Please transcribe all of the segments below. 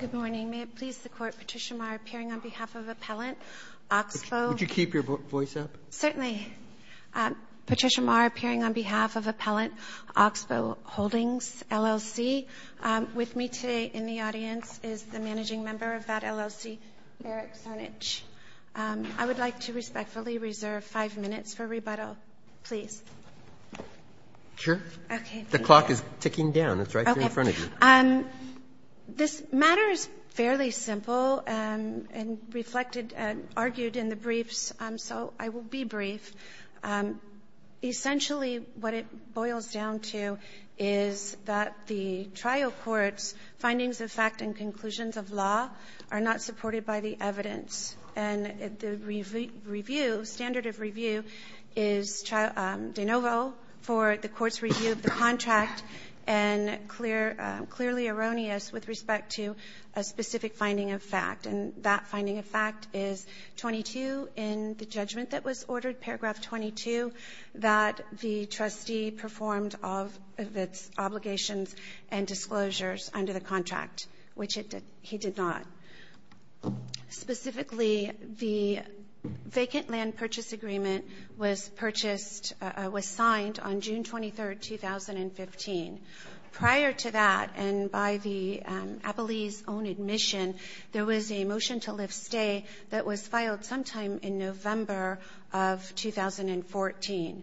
Good morning. May it please the Court, Patricia Marr appearing on behalf of Appellant Oxbow. Would you keep your voice up? Certainly. Patricia Marr appearing on behalf of Appellant Oxbow Holdings, LLC. With me today in the audience is the managing member of that LLC, Eric Cernich. I would like to respectfully reserve five minutes for rebuttal, please. Sure. Okay. The clock is ticking down. It's right there in front of you. This matter is fairly simple and reflected and argued in the briefs, so I will be brief. Essentially what it boils down to is that the trial court's findings of fact and conclusions of law are not supported by the evidence. And the review, standard of review, is de novo for the court's review of the contract and clearly erroneous with respect to a specific finding of fact. And that finding of fact is 22 in the judgment that was ordered, paragraph 22, that the trustee performed of its obligations and disclosures under the contract, which he did not. Specifically, the vacant land purchase agreement was purchased, was signed on June 23, 2015. Prior to that and by the appellee's own admission, there was a motion to lift stay that was filed sometime in November of 2014.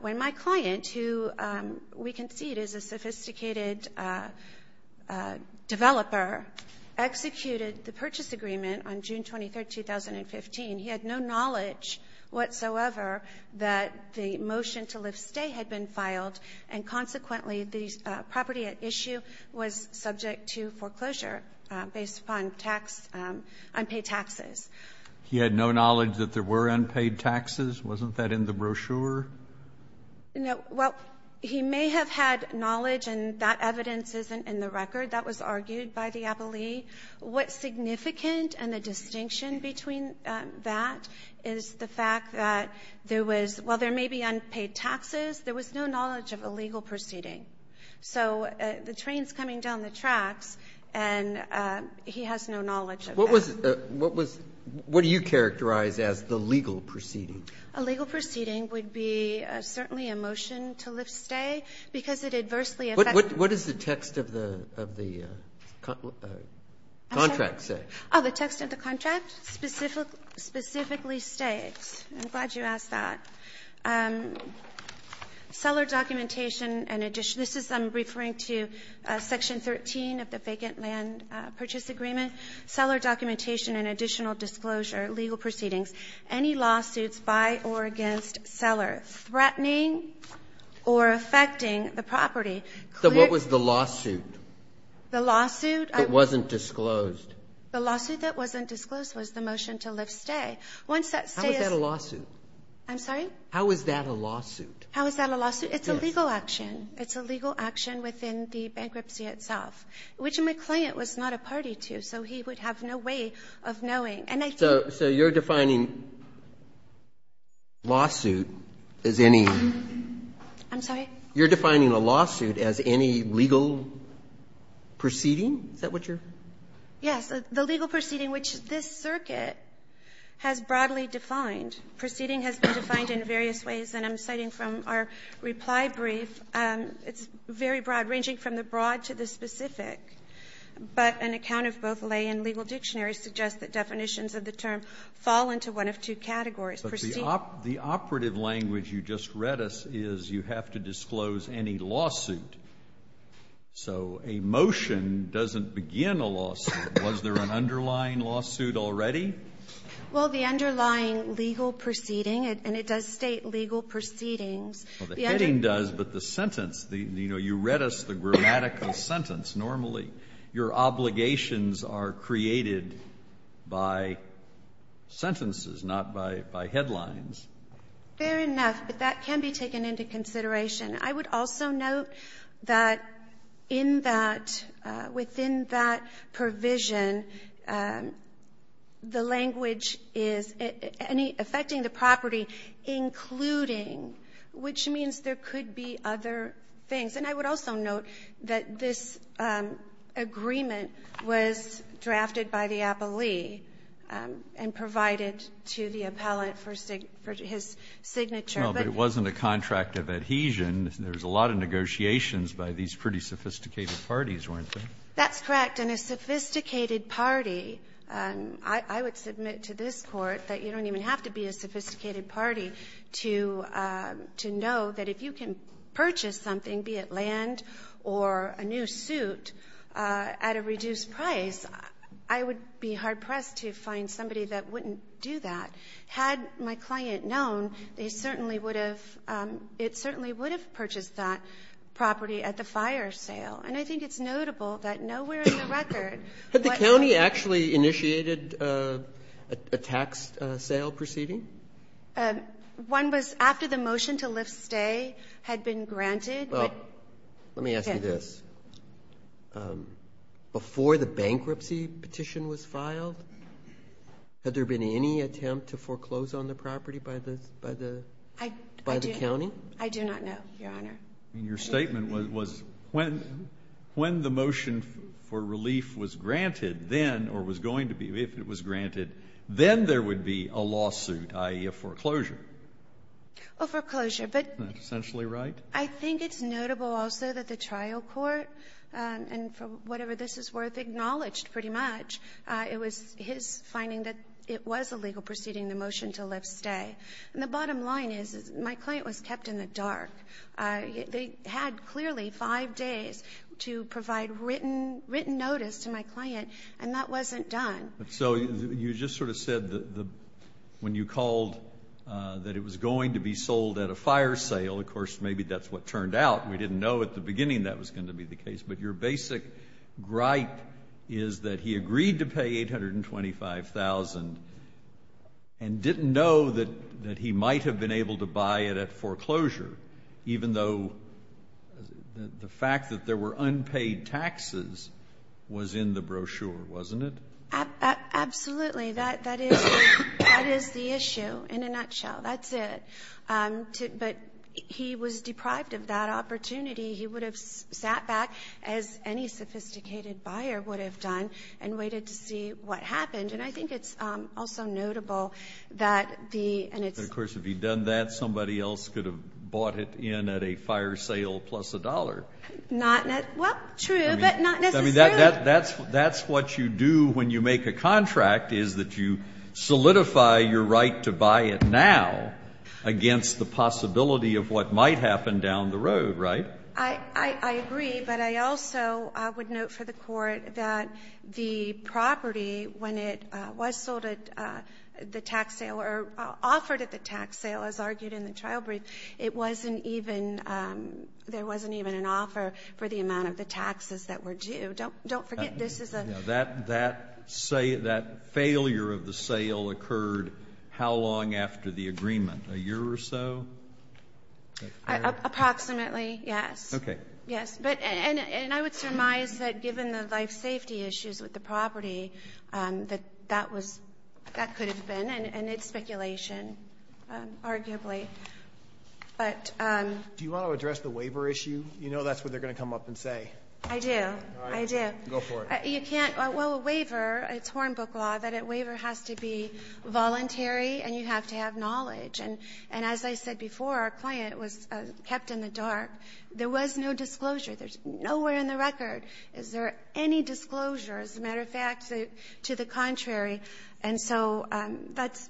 When my client, who we concede is a sophisticated developer, executed the purchase agreement on June 23, 2015, he had no knowledge whatsoever that the motion to lift stay had been filed and consequently the property at issue was subject to foreclosure based upon unpaid taxes. He had no knowledge that there were unpaid taxes? Wasn't that in the brochure? No. Well, he may have had knowledge, and that evidence isn't in the record. That was argued by the appellee. What's significant and the distinction between that is the fact that there was, while there may be unpaid taxes, there was no knowledge of a legal proceeding. So the train's coming down the tracks, and he has no knowledge of that. What was, what was, what do you characterize as the legal proceeding? A legal proceeding would be certainly a motion to lift stay because it adversely affects. What does the text of the, of the contract say? Oh, the text of the contract specifically states, I'm glad you asked that, seller documentation and addition. This is, I'm referring to section 13 of the vacant land purchase agreement. Seller documentation and additional disclosure, legal proceedings. Any lawsuits by or against seller threatening or affecting the property. So what was the lawsuit? The lawsuit? It wasn't disclosed. The lawsuit that wasn't disclosed was the motion to lift stay. Once that stay is ---- How is that a lawsuit? I'm sorry? How is that a lawsuit? How is that a lawsuit? It's a legal action within the bankruptcy itself, which my client was not a party to, so he would have no way of knowing. And I think ---- So you're defining lawsuit as any ---- I'm sorry? You're defining a lawsuit as any legal proceeding? Is that what you're ---- Yes. The legal proceeding, which this circuit has broadly defined. Proceeding has been defined in various ways. And I'm citing from our reply brief, it's very broad, ranging from the broad to the broad. And I think both lay and legal dictionaries suggest that definitions of the term fall into one of two categories. Proceeding ---- But the operative language you just read us is you have to disclose any lawsuit. So a motion doesn't begin a lawsuit. Was there an underlying lawsuit already? Well, the underlying legal proceeding, and it does state legal proceedings. Well, the heading does, but the sentence, you know, you read us the grammatical sentence normally. Your obligations are created by sentences, not by headlines. Fair enough. But that can be taken into consideration. I would also note that in that ---- within that provision, the language is affecting the property, including, which means there could be other things. And I would also note that this agreement was drafted by the appellee and provided to the appellant for his signature. No, but it wasn't a contract of adhesion. There was a lot of negotiations by these pretty sophisticated parties, weren't they? That's correct. And a sophisticated party, I would submit to this Court that you don't even have to be a sophisticated party to know that if you can purchase something, be it land or a new suit, at a reduced price, I would be hard-pressed to find somebody that wouldn't do that. Had my client known, they certainly would have ---- it certainly would have purchased that property at the fire sale. And I think it's notable that nowhere in the record ---- Has the county actually initiated a tax sale proceeding? One was after the motion to lift stay had been granted. Well, let me ask you this. Before the bankruptcy petition was filed, had there been any attempt to foreclose on the property by the county? I do not know, Your Honor. Your statement was when the motion for relief was granted then, or was going to be if it was granted, then there would be a lawsuit, i.e., a foreclosure. A foreclosure, but ---- Isn't that essentially right? I think it's notable also that the trial court, and for whatever this is worth, acknowledged pretty much it was his finding that it was illegal proceeding the motion to lift stay. And the bottom line is my client was kept in the dark. They had clearly five days to provide written notice to my client, and that wasn't done. So you just sort of said that when you called that it was going to be sold at a fire sale, of course, maybe that's what turned out. We didn't know at the beginning that was going to be the case. But your basic gripe is that he agreed to pay $825,000 and didn't know that he might have been able to buy it at foreclosure, even though the fact that there were unpaid taxes was in the brochure, wasn't it? Absolutely. That is the issue in a nutshell. That's it. But he was deprived of that opportunity. He would have sat back, as any sophisticated buyer would have done, and waited to see what happened. And I think it's also notable that the and it's. But, of course, if he had done that, somebody else could have bought it in at a fire sale plus a dollar. Not necessarily. Well, true, but not necessarily. I mean, that's what you do when you make a contract, is that you solidify your right to buy it now against the possibility of what might happen down the road, right? I agree. But I also would note for the Court that the property, when it was sold at the tax sale, or offered at the tax sale, as argued in the trial brief, it wasn't even, there wasn't even an offer for the amount of the taxes that were due. Don't forget, this is a. That failure of the sale occurred how long after the agreement? A year or so? Approximately, yes. Okay. Yes. But, and I would surmise that given the life safety issues with the property, that that was, that could have been, and it's speculation, arguably. But. Do you want to address the waiver issue? You know that's what they're going to come up and say. I do. I do. Go for it. You can't. Well, a waiver, it's Hornbook law, that a waiver has to be voluntary and you have to have knowledge. And as I said before, our client was kept in the dark. There was no disclosure. There's nowhere in the record. Is there any disclosure? As a matter of fact, to the contrary. And so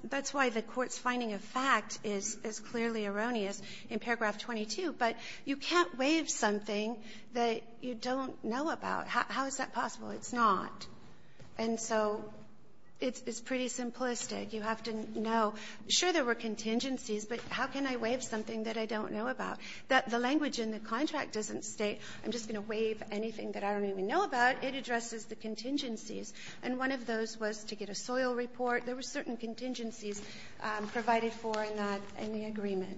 that's why the Court's finding of fact is clearly erroneous in paragraph 22. But you can't waive something that you don't know about. How is that possible? It's not. And so it's pretty simplistic. You have to know, sure, there were contingencies, but how can I waive something that I don't know about? The language in the contract doesn't state I'm just going to waive anything that I don't even know about. It addresses the contingencies. And one of those was to get a soil report. There were certain contingencies provided for in that, in the agreement.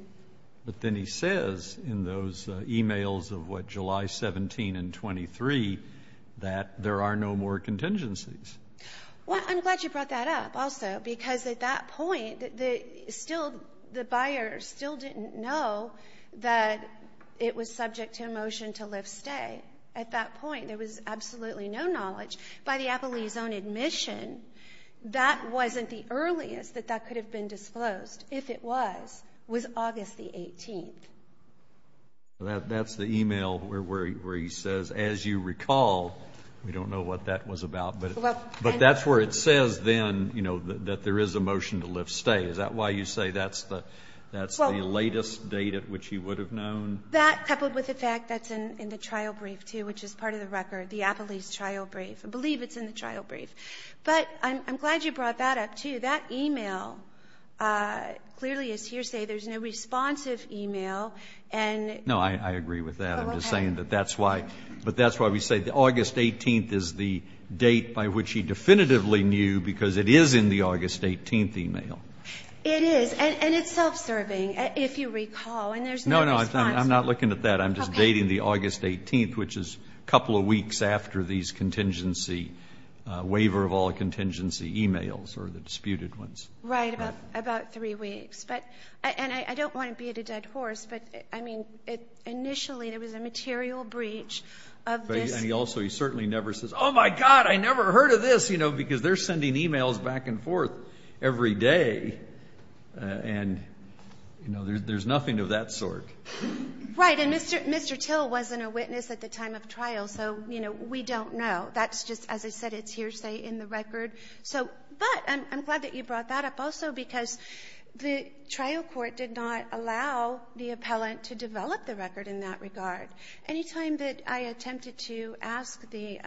But then he says in those e-mails of, what, July 17 and 23, that there are no more contingencies. Well, I'm glad you brought that up also, because at that point, the buyer still didn't know that it was subject to a motion to lift stay. At that point, there was absolutely no knowledge. By the Appalachee's own admission, that wasn't the earliest that that could have been disclosed. If it was, it was August the 18th. That's the e-mail where he says, as you recall, we don't know what that was about. But that's where it says then, you know, that there is a motion to lift stay. Is that why you say that's the latest date at which he would have known? That, coupled with the fact that's in the trial brief, too, which is part of the record, the Appalachee's trial brief. I believe it's in the trial brief. But I'm glad you brought that up, too. That e-mail clearly is hearsay. There's no responsive e-mail. And go ahead. No, I agree with that. I'm just saying that that's why. But that's why we say August 18th is the date by which he definitively knew, because it is in the August 18th e-mail. It is. And it's self-serving, if you recall. And there's no response. No, no. I'm not looking at that. I'm just dating the August 18th, which is a couple of weeks after these contingency waiver of all the contingency e-mails or the disputed ones. Right. About three weeks. And I don't want to be at a dead horse, but, I mean, initially there was a material breach of this. And he also, he certainly never says, oh, my God, I never heard of this, you know, because they're sending e-mails back and forth every day. And, you know, there's nothing of that sort. Right. And Mr. Till wasn't a witness at the time of trial. So, you know, we don't know. That's just, as I said, it's hearsay in the record. So, but I'm glad that you brought that up also because the trial court did not allow the appellant to develop the record in that regard. Any time that I attempted to ask the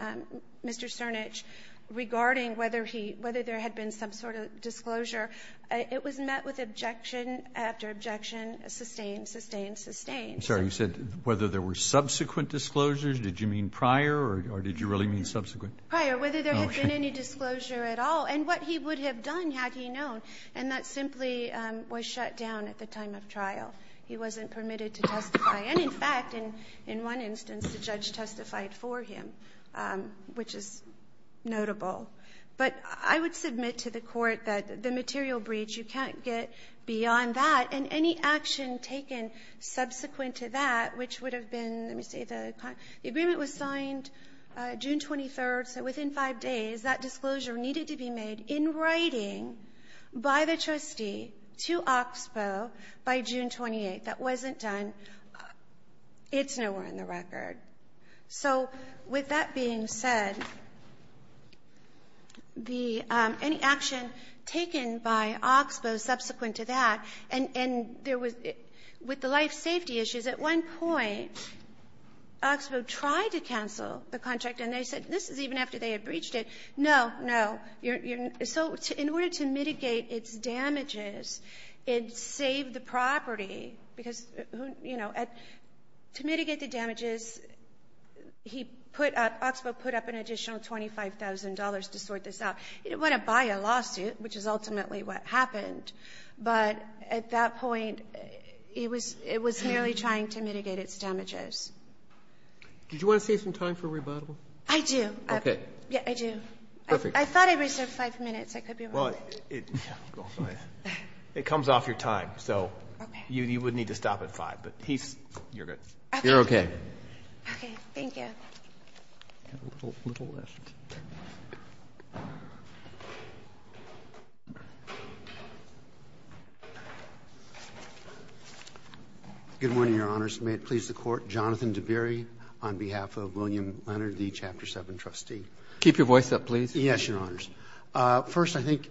Mr. Cernich regarding whether he, whether there had been some sort of disclosure, it was met with objection after objection, sustained, sustained, sustained. I'm sorry. You said whether there were subsequent disclosures. Did you mean prior or did you really mean subsequent? Prior, whether there had been any disclosure at all. And what he would have done had he known. And that simply was shut down at the time of trial. He wasn't permitted to testify. And, in fact, in one instance, the judge testified for him, which is notable. But I would submit to the Court that the material breach, you can't get beyond that. And any action taken subsequent to that, which would have been, let me see, the agreement was signed June 23rd. So within five days, that disclosure needed to be made in writing by the trustee to Oxbow by June 28th. If that wasn't done, it's nowhere in the record. So with that being said, the, any action taken by Oxbow subsequent to that, and there was, with the life safety issues, at one point, Oxbow tried to cancel the contract. And they said, this is even after they had breached it. No, no. So in order to mitigate its damages, it saved the property. Because, you know, to mitigate the damages, he put, Oxbow put up an additional $25,000 to sort this out. It went up by a lawsuit, which is ultimately what happened. But at that point, it was merely trying to mitigate its damages. Did you want to save some time for rebuttal? I do. Yeah, I do. Perfect. I thought I reserved five minutes. I could be wrong. Well, it comes off your time. So you would need to stop at five. But he's, you're good. You're okay. Okay. Thank you. A little left. Good morning, Your Honors. May it please the Court. Jonathan DeBerry on behalf of William Leonard, the Chapter 7 trustee. Keep your voice up, please. Yes, Your Honors. First, I think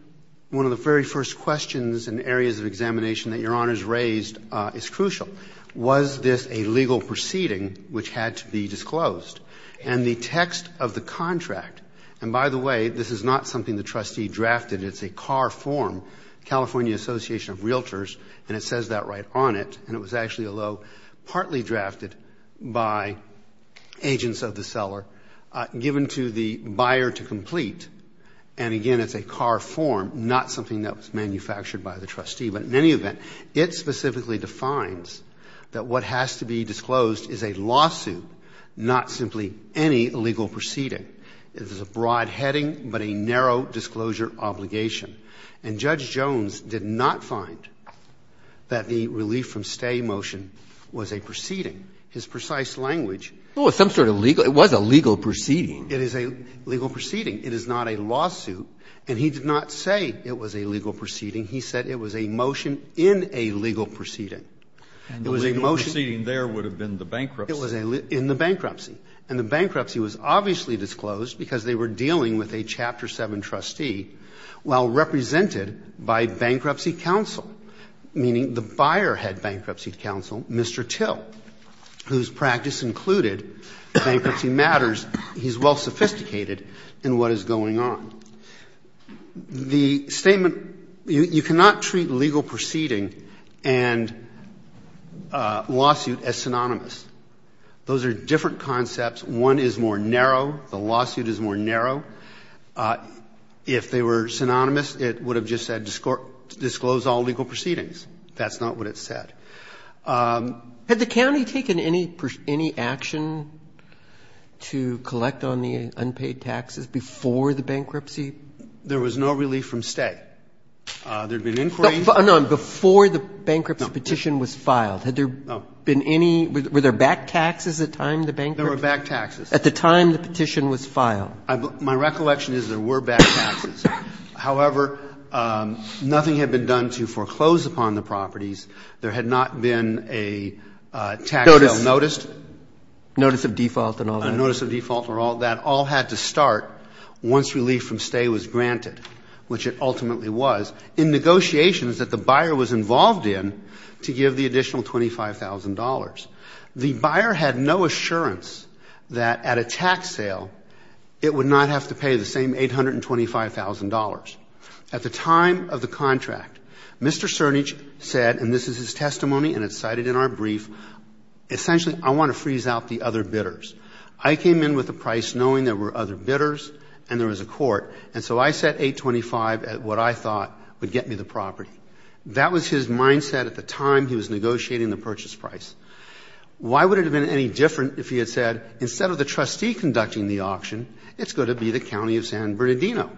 one of the very first questions in areas of examination that Your Honors raised is crucial. Was this a legal proceeding which had to be disclosed? And the text of the contract, and by the way, this is not something the trustee drafted. It's a CAR form, California Association of Realtors, and it says that right on it. And it was actually, although partly drafted by agents of the seller, given to the buyer to complete. And again, it's a CAR form, not something that was manufactured by the trustee. But in any event, it specifically defines that what has to be disclosed is a lawsuit, not simply any legal proceeding. It is a broad heading, but a narrow disclosure obligation. And Judge Jones did not find that the relief from stay motion was a proceeding. His precise language. Well, it's some sort of legal. It was a legal proceeding. It is a legal proceeding. It is not a lawsuit. And he did not say it was a legal proceeding. He said it was a motion in a legal proceeding. It was a motion. And the legal proceeding there would have been the bankruptcy. It was in the bankruptcy. And the bankruptcy was obviously disclosed because they were dealing with a Chapter 7 trustee, while represented by bankruptcy counsel, meaning the buyer had bankruptcy counsel, Mr. Till, whose practice included bankruptcy matters. He's well sophisticated in what is going on. The statement, you cannot treat legal proceeding and lawsuit as synonymous. Those are different concepts. One is more narrow. The lawsuit is more narrow. If they were synonymous, it would have just said disclose all legal proceedings. That's not what it said. Had the county taken any action to collect on the unpaid taxes before the bankruptcy? There was no relief from stay. There had been inquiry. No, before the bankruptcy petition was filed. Had there been any – were there back taxes at the time the bankruptcy? There were back taxes. At the time the petition was filed. My recollection is there were back taxes. However, nothing had been done to foreclose upon the properties. There had not been a tax sale noticed. Notice of default and all that. A notice of default and all that. All had to start once relief from stay was granted, which it ultimately was, in negotiations that the buyer was involved in to give the additional $25,000. The buyer had no assurance that at a tax sale it would not have to pay the same $825,000. At the time of the contract, Mr. Cernich said, and this is his testimony and it's cited in our brief, essentially I want to freeze out the other bidders. I came in with a price knowing there were other bidders and there was a court, and so I set $825,000 at what I thought would get me the property. That was his mindset at the time he was negotiating the purchase price. Why would it have been any different if he had said instead of the trustee conducting the auction, it's going to be the county of San Bernardino?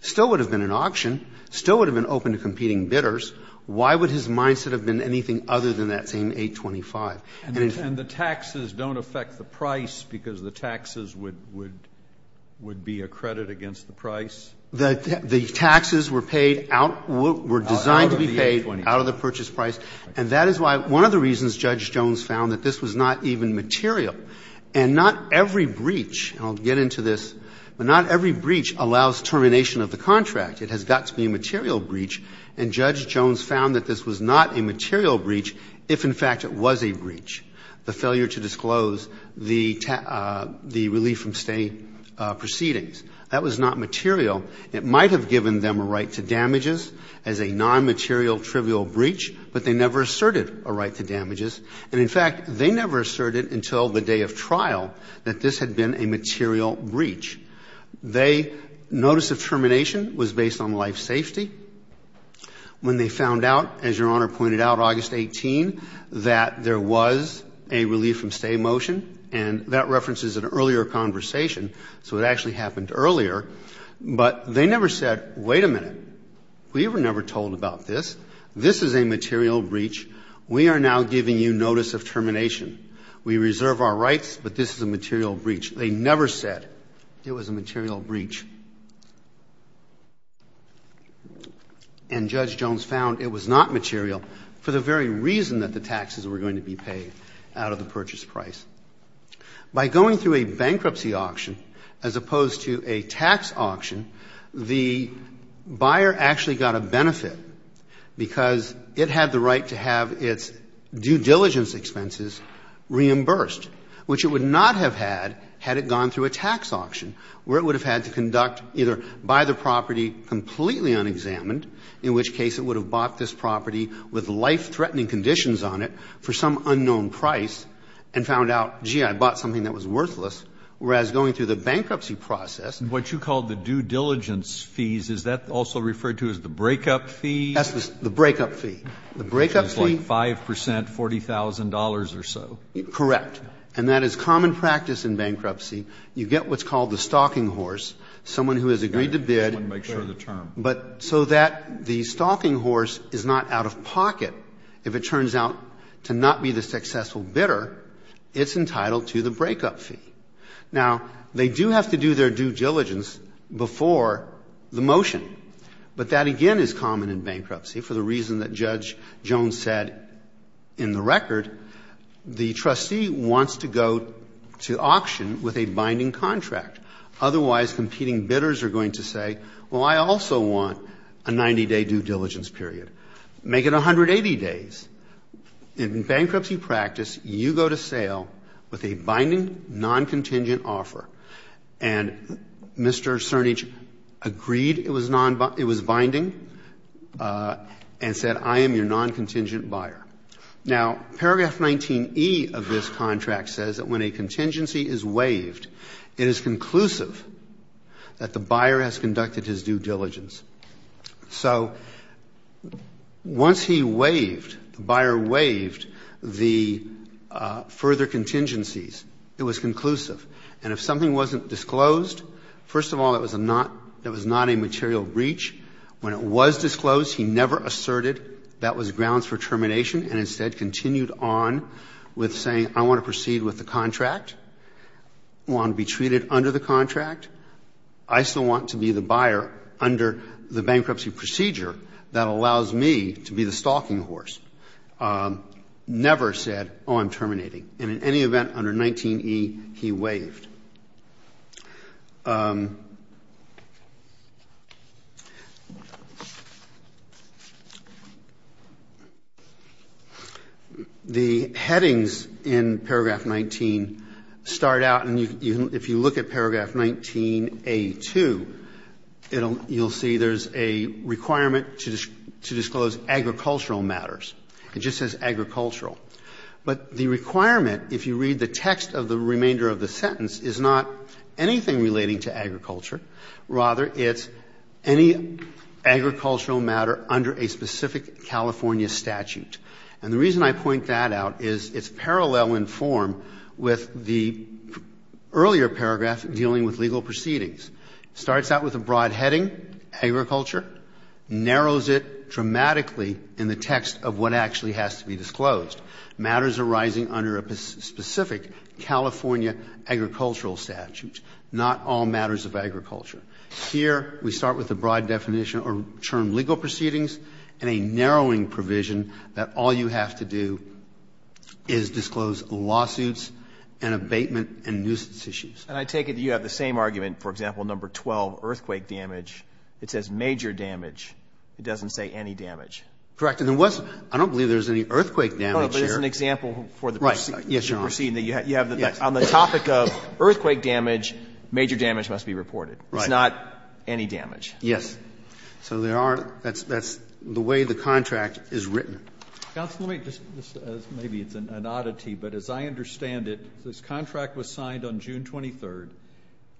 Still would have been an auction. Still would have been open to competing bidders. Why would his mindset have been anything other than that same $825,000? And the taxes don't affect the price because the taxes would be a credit against the price? The taxes were paid out, were designed to be paid out of the purchase price. And that is why one of the reasons Judge Jones found that this was not even material and not every breach, and I'll get into this, but not every breach allows termination of the contract. It has got to be a material breach. And Judge Jones found that this was not a material breach if, in fact, it was a breach, the failure to disclose the relief from State proceedings. That was not material. It might have given them a right to damages as a non-material trivial breach, but they never asserted a right to damages. And, in fact, they never asserted until the day of trial that this had been a material breach. They, notice of termination was based on life safety. When they found out, as Your Honor pointed out, August 18, that there was a relief from State motion, and that references an earlier conversation. So it actually happened earlier. But they never said, wait a minute. We were never told about this. This is a material breach. We are now giving you notice of termination. We reserve our rights, but this is a material breach. They never said it was a material breach. And Judge Jones found it was not material for the very reason that the taxes were going to be paid out of the purchase price. By going through a bankruptcy auction as opposed to a tax auction, the buyer actually got a benefit because it had the right to have its due diligence expenses reimbursed, which it would not have had had it gone through a tax auction, where it would have had to conduct either buy the property completely unexamined, in which case it would have bought this property with life-threatening conditions on it for some unknown price, and found out, gee, I bought something that was worthless, whereas going through the bankruptcy process. What you called the due diligence fees, is that also referred to as the breakup fee? That's the breakup fee. The breakup fee. It's like 5 percent, $40,000 or so. Correct. And that is common practice in bankruptcy. You get what's called the stalking horse. Someone who has agreed to bid. I just want to make sure of the term. But so that the stalking horse is not out of pocket, if it turns out to not be the successful bidder, it's entitled to the breakup fee. Now, they do have to do their due diligence before the motion, but that again is common in bankruptcy for the reason that Judge Jones said in the record. The trustee wants to go to auction with a binding contract. Otherwise, competing bidders are going to say, well, I also want a 90-day due diligence period. Make it 180 days. In bankruptcy practice, you go to sale with a binding, non-contingent offer. And Mr. Cernich agreed it was binding and said, I am your non-contingent buyer. Now, paragraph 19E of this contract says that when a contingency is waived, it is conclusive that the buyer has conducted his due diligence. So once he waived, the buyer waived the further contingencies, it was conclusive. And if something wasn't disclosed, first of all, it was not a material breach. When it was disclosed, he never asserted that was grounds for termination and instead continued on with saying, I want to proceed with the contract. I want to be treated under the contract. I still want to be the buyer under the bankruptcy procedure that allows me to be the stalking horse. Never said, oh, I'm terminating. And in any event, under 19E, he waived. The headings in paragraph 19 start out, and if you look at paragraph 19A2, you'll see there's a requirement to disclose agricultural matters. It just says agricultural. But the requirement, if you read the text of the remainder of the sentence, is not anything relating to agriculture. Rather, it's any agricultural matter under a specific California statute. And the reason I point that out is it's parallel in form with the earlier paragraph dealing with legal proceedings. Starts out with a broad heading, agriculture, narrows it dramatically in the text of what actually has to be disclosed. Matters arising under a specific California agricultural statute, not all matters of agriculture. Here, we start with a broad definition or term legal proceedings and a narrowing provision that all you have to do is disclose lawsuits and abatement and nuisance issues. And I take it you have the same argument, for example, number 12, earthquake damage. It says major damage. It doesn't say any damage. Correct. I don't believe there's any earthquake damage here. No, but it's an example for the proceeding. Right. Yes, Your Honor. On the topic of earthquake damage, major damage must be reported. Right. It's not any damage. Yes. So there are the way the contract is written. Counsel, let me just, maybe it's an oddity, but as I understand it, this contract was signed on June 23,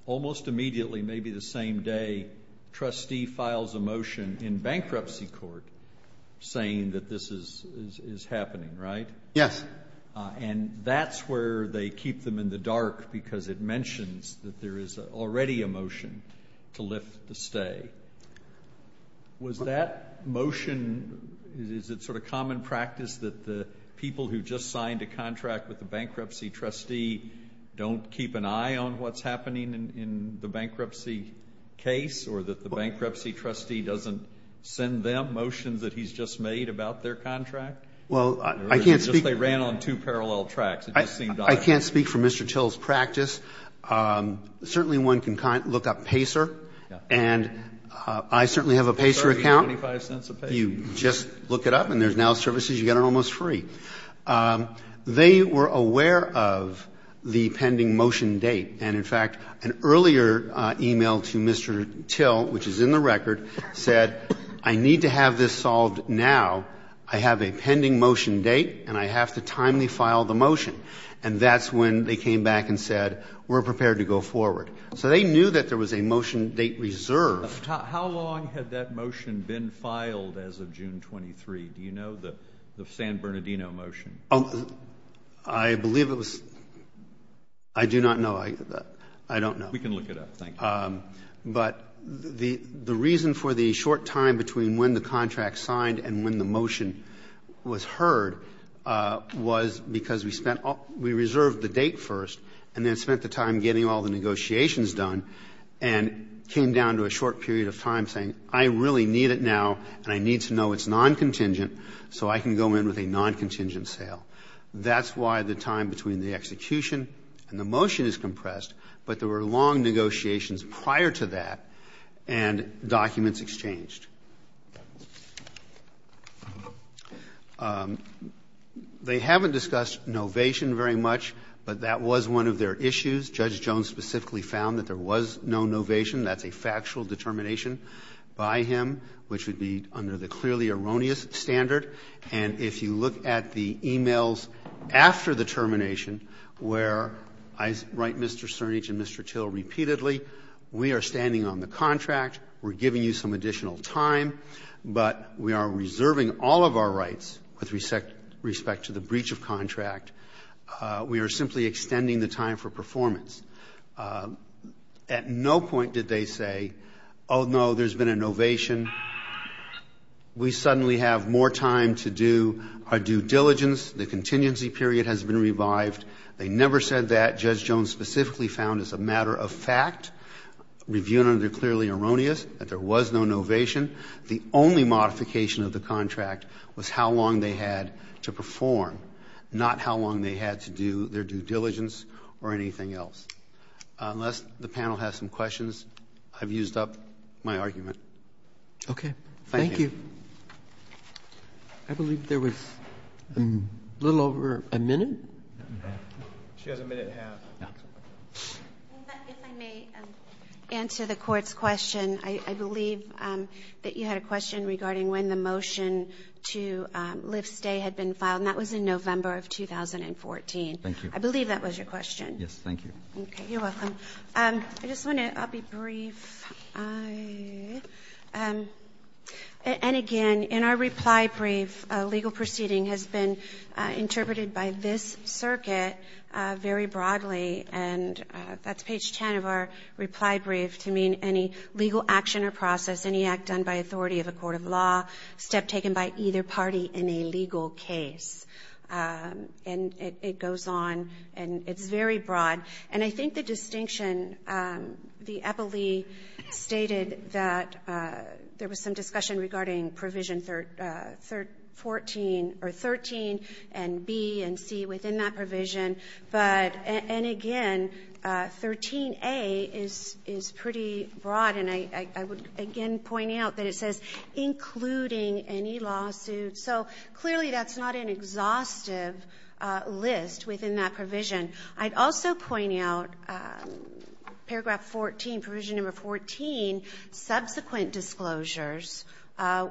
almost immediately, maybe the same day, trustee files a motion in bankruptcy court saying that this is happening, right? Yes. And that's where they keep them in the dark because it mentions that there is already a motion to lift the stay. Was that motion, is it sort of common practice that the people who just signed a contract with the bankruptcy trustee don't keep an eye on what's happening in the bankruptcy case or that the bankruptcy trustee doesn't send them motions that he's just made about their contract? Well, I can't speak. Or is it just they ran on two parallel tracks? It just seemed odd. I can't speak for Mr. Till's practice. Certainly one can look up PACER. Yes. And I certainly have a PACER account. $0.30, $0.25 a page. You just look it up and there's now services you get almost free. They were aware of the pending motion date. And, in fact, an earlier e-mail to Mr. Till, which is in the record, said, I need to have this solved now. I have a pending motion date and I have to timely file the motion. And that's when they came back and said, we're prepared to go forward. So they knew that there was a motion date reserved. How long had that motion been filed as of June 23? Do you know the San Bernardino motion? I believe it was. I do not know. I don't know. We can look it up. Thank you. But the reason for the short time between when the contract signed and when the motion was heard was because we reserved the date first and then spent the time getting all the negotiations done and came down to a short period of time saying, I really need it now and I need to know it's non-contingent so I can go in with a non-contingent sale. That's why the time between the execution and the motion is compressed, but there were long negotiations prior to that and documents exchanged. They haven't discussed novation very much, but that was one of their issues. Judge Jones specifically found that there was no novation. That's a factual determination by him which would be under the clearly erroneous standard, and if you look at the e-mails after the termination where I write Mr. Cernich and Mr. Till repeatedly, we are standing on the contract, we're giving you some additional time, but we are reserving all of our rights with respect to the breach of contract. We are simply extending the time for performance. At no point did they say, oh, no, there's been a novation. We suddenly have more time to do our due diligence. The contingency period has been revived. They never said that. Judge Jones specifically found as a matter of fact, reviewed under clearly erroneous, that there was no novation. The only modification of the contract was how long they had to perform, not how long they had to do their due diligence or anything else. Unless the panel has some questions, I've used up my argument. Okay. Thank you. I believe there was a little over a minute. She has a minute and a half. If I may answer the Court's question, I believe that you had a question regarding when the motion to lift stay had been passed in November of 2014. Thank you. I believe that was your question. Yes. Thank you. Okay. You're welcome. I just want to, I'll be brief. And again, in our reply brief, a legal proceeding has been interpreted by this circuit very broadly, and that's page 10 of our reply brief to mean any legal action or process, any act done by authority of a court of law, step taken by either party in a legal case. And it goes on. And it's very broad. And I think the distinction, the Eppley stated that there was some discussion regarding provision 13 and B and C within that provision. And again, 13A is pretty broad. And I would again point out that it says including any lawsuit. So clearly that's not an exhaustive list within that provision. I'd also point out paragraph 14, provision number 14, subsequent disclosures,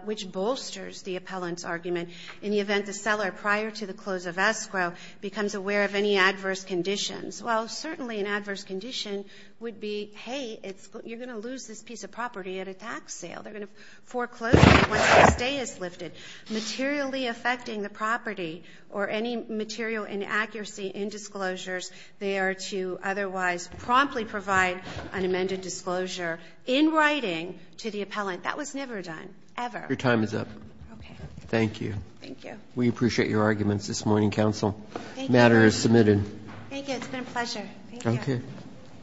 which bolsters the appellant's argument. In the event the seller, prior to the close of escrow, becomes aware of any adverse conditions. Well, certainly an adverse condition would be, hey, you're going to lose this piece of property at a tax sale. They're going to foreclose it once the stay is lifted. Materially affecting the property or any material inaccuracy in disclosures, they are to otherwise promptly provide an amended disclosure in writing to the appellant. That was never done, ever. Roberts. Your time is up. Okay. Thank you. Thank you. We appreciate your arguments this morning, counsel. Thank you. This order is submitted. Thank you. It's been a pleasure. Thank you. Okay.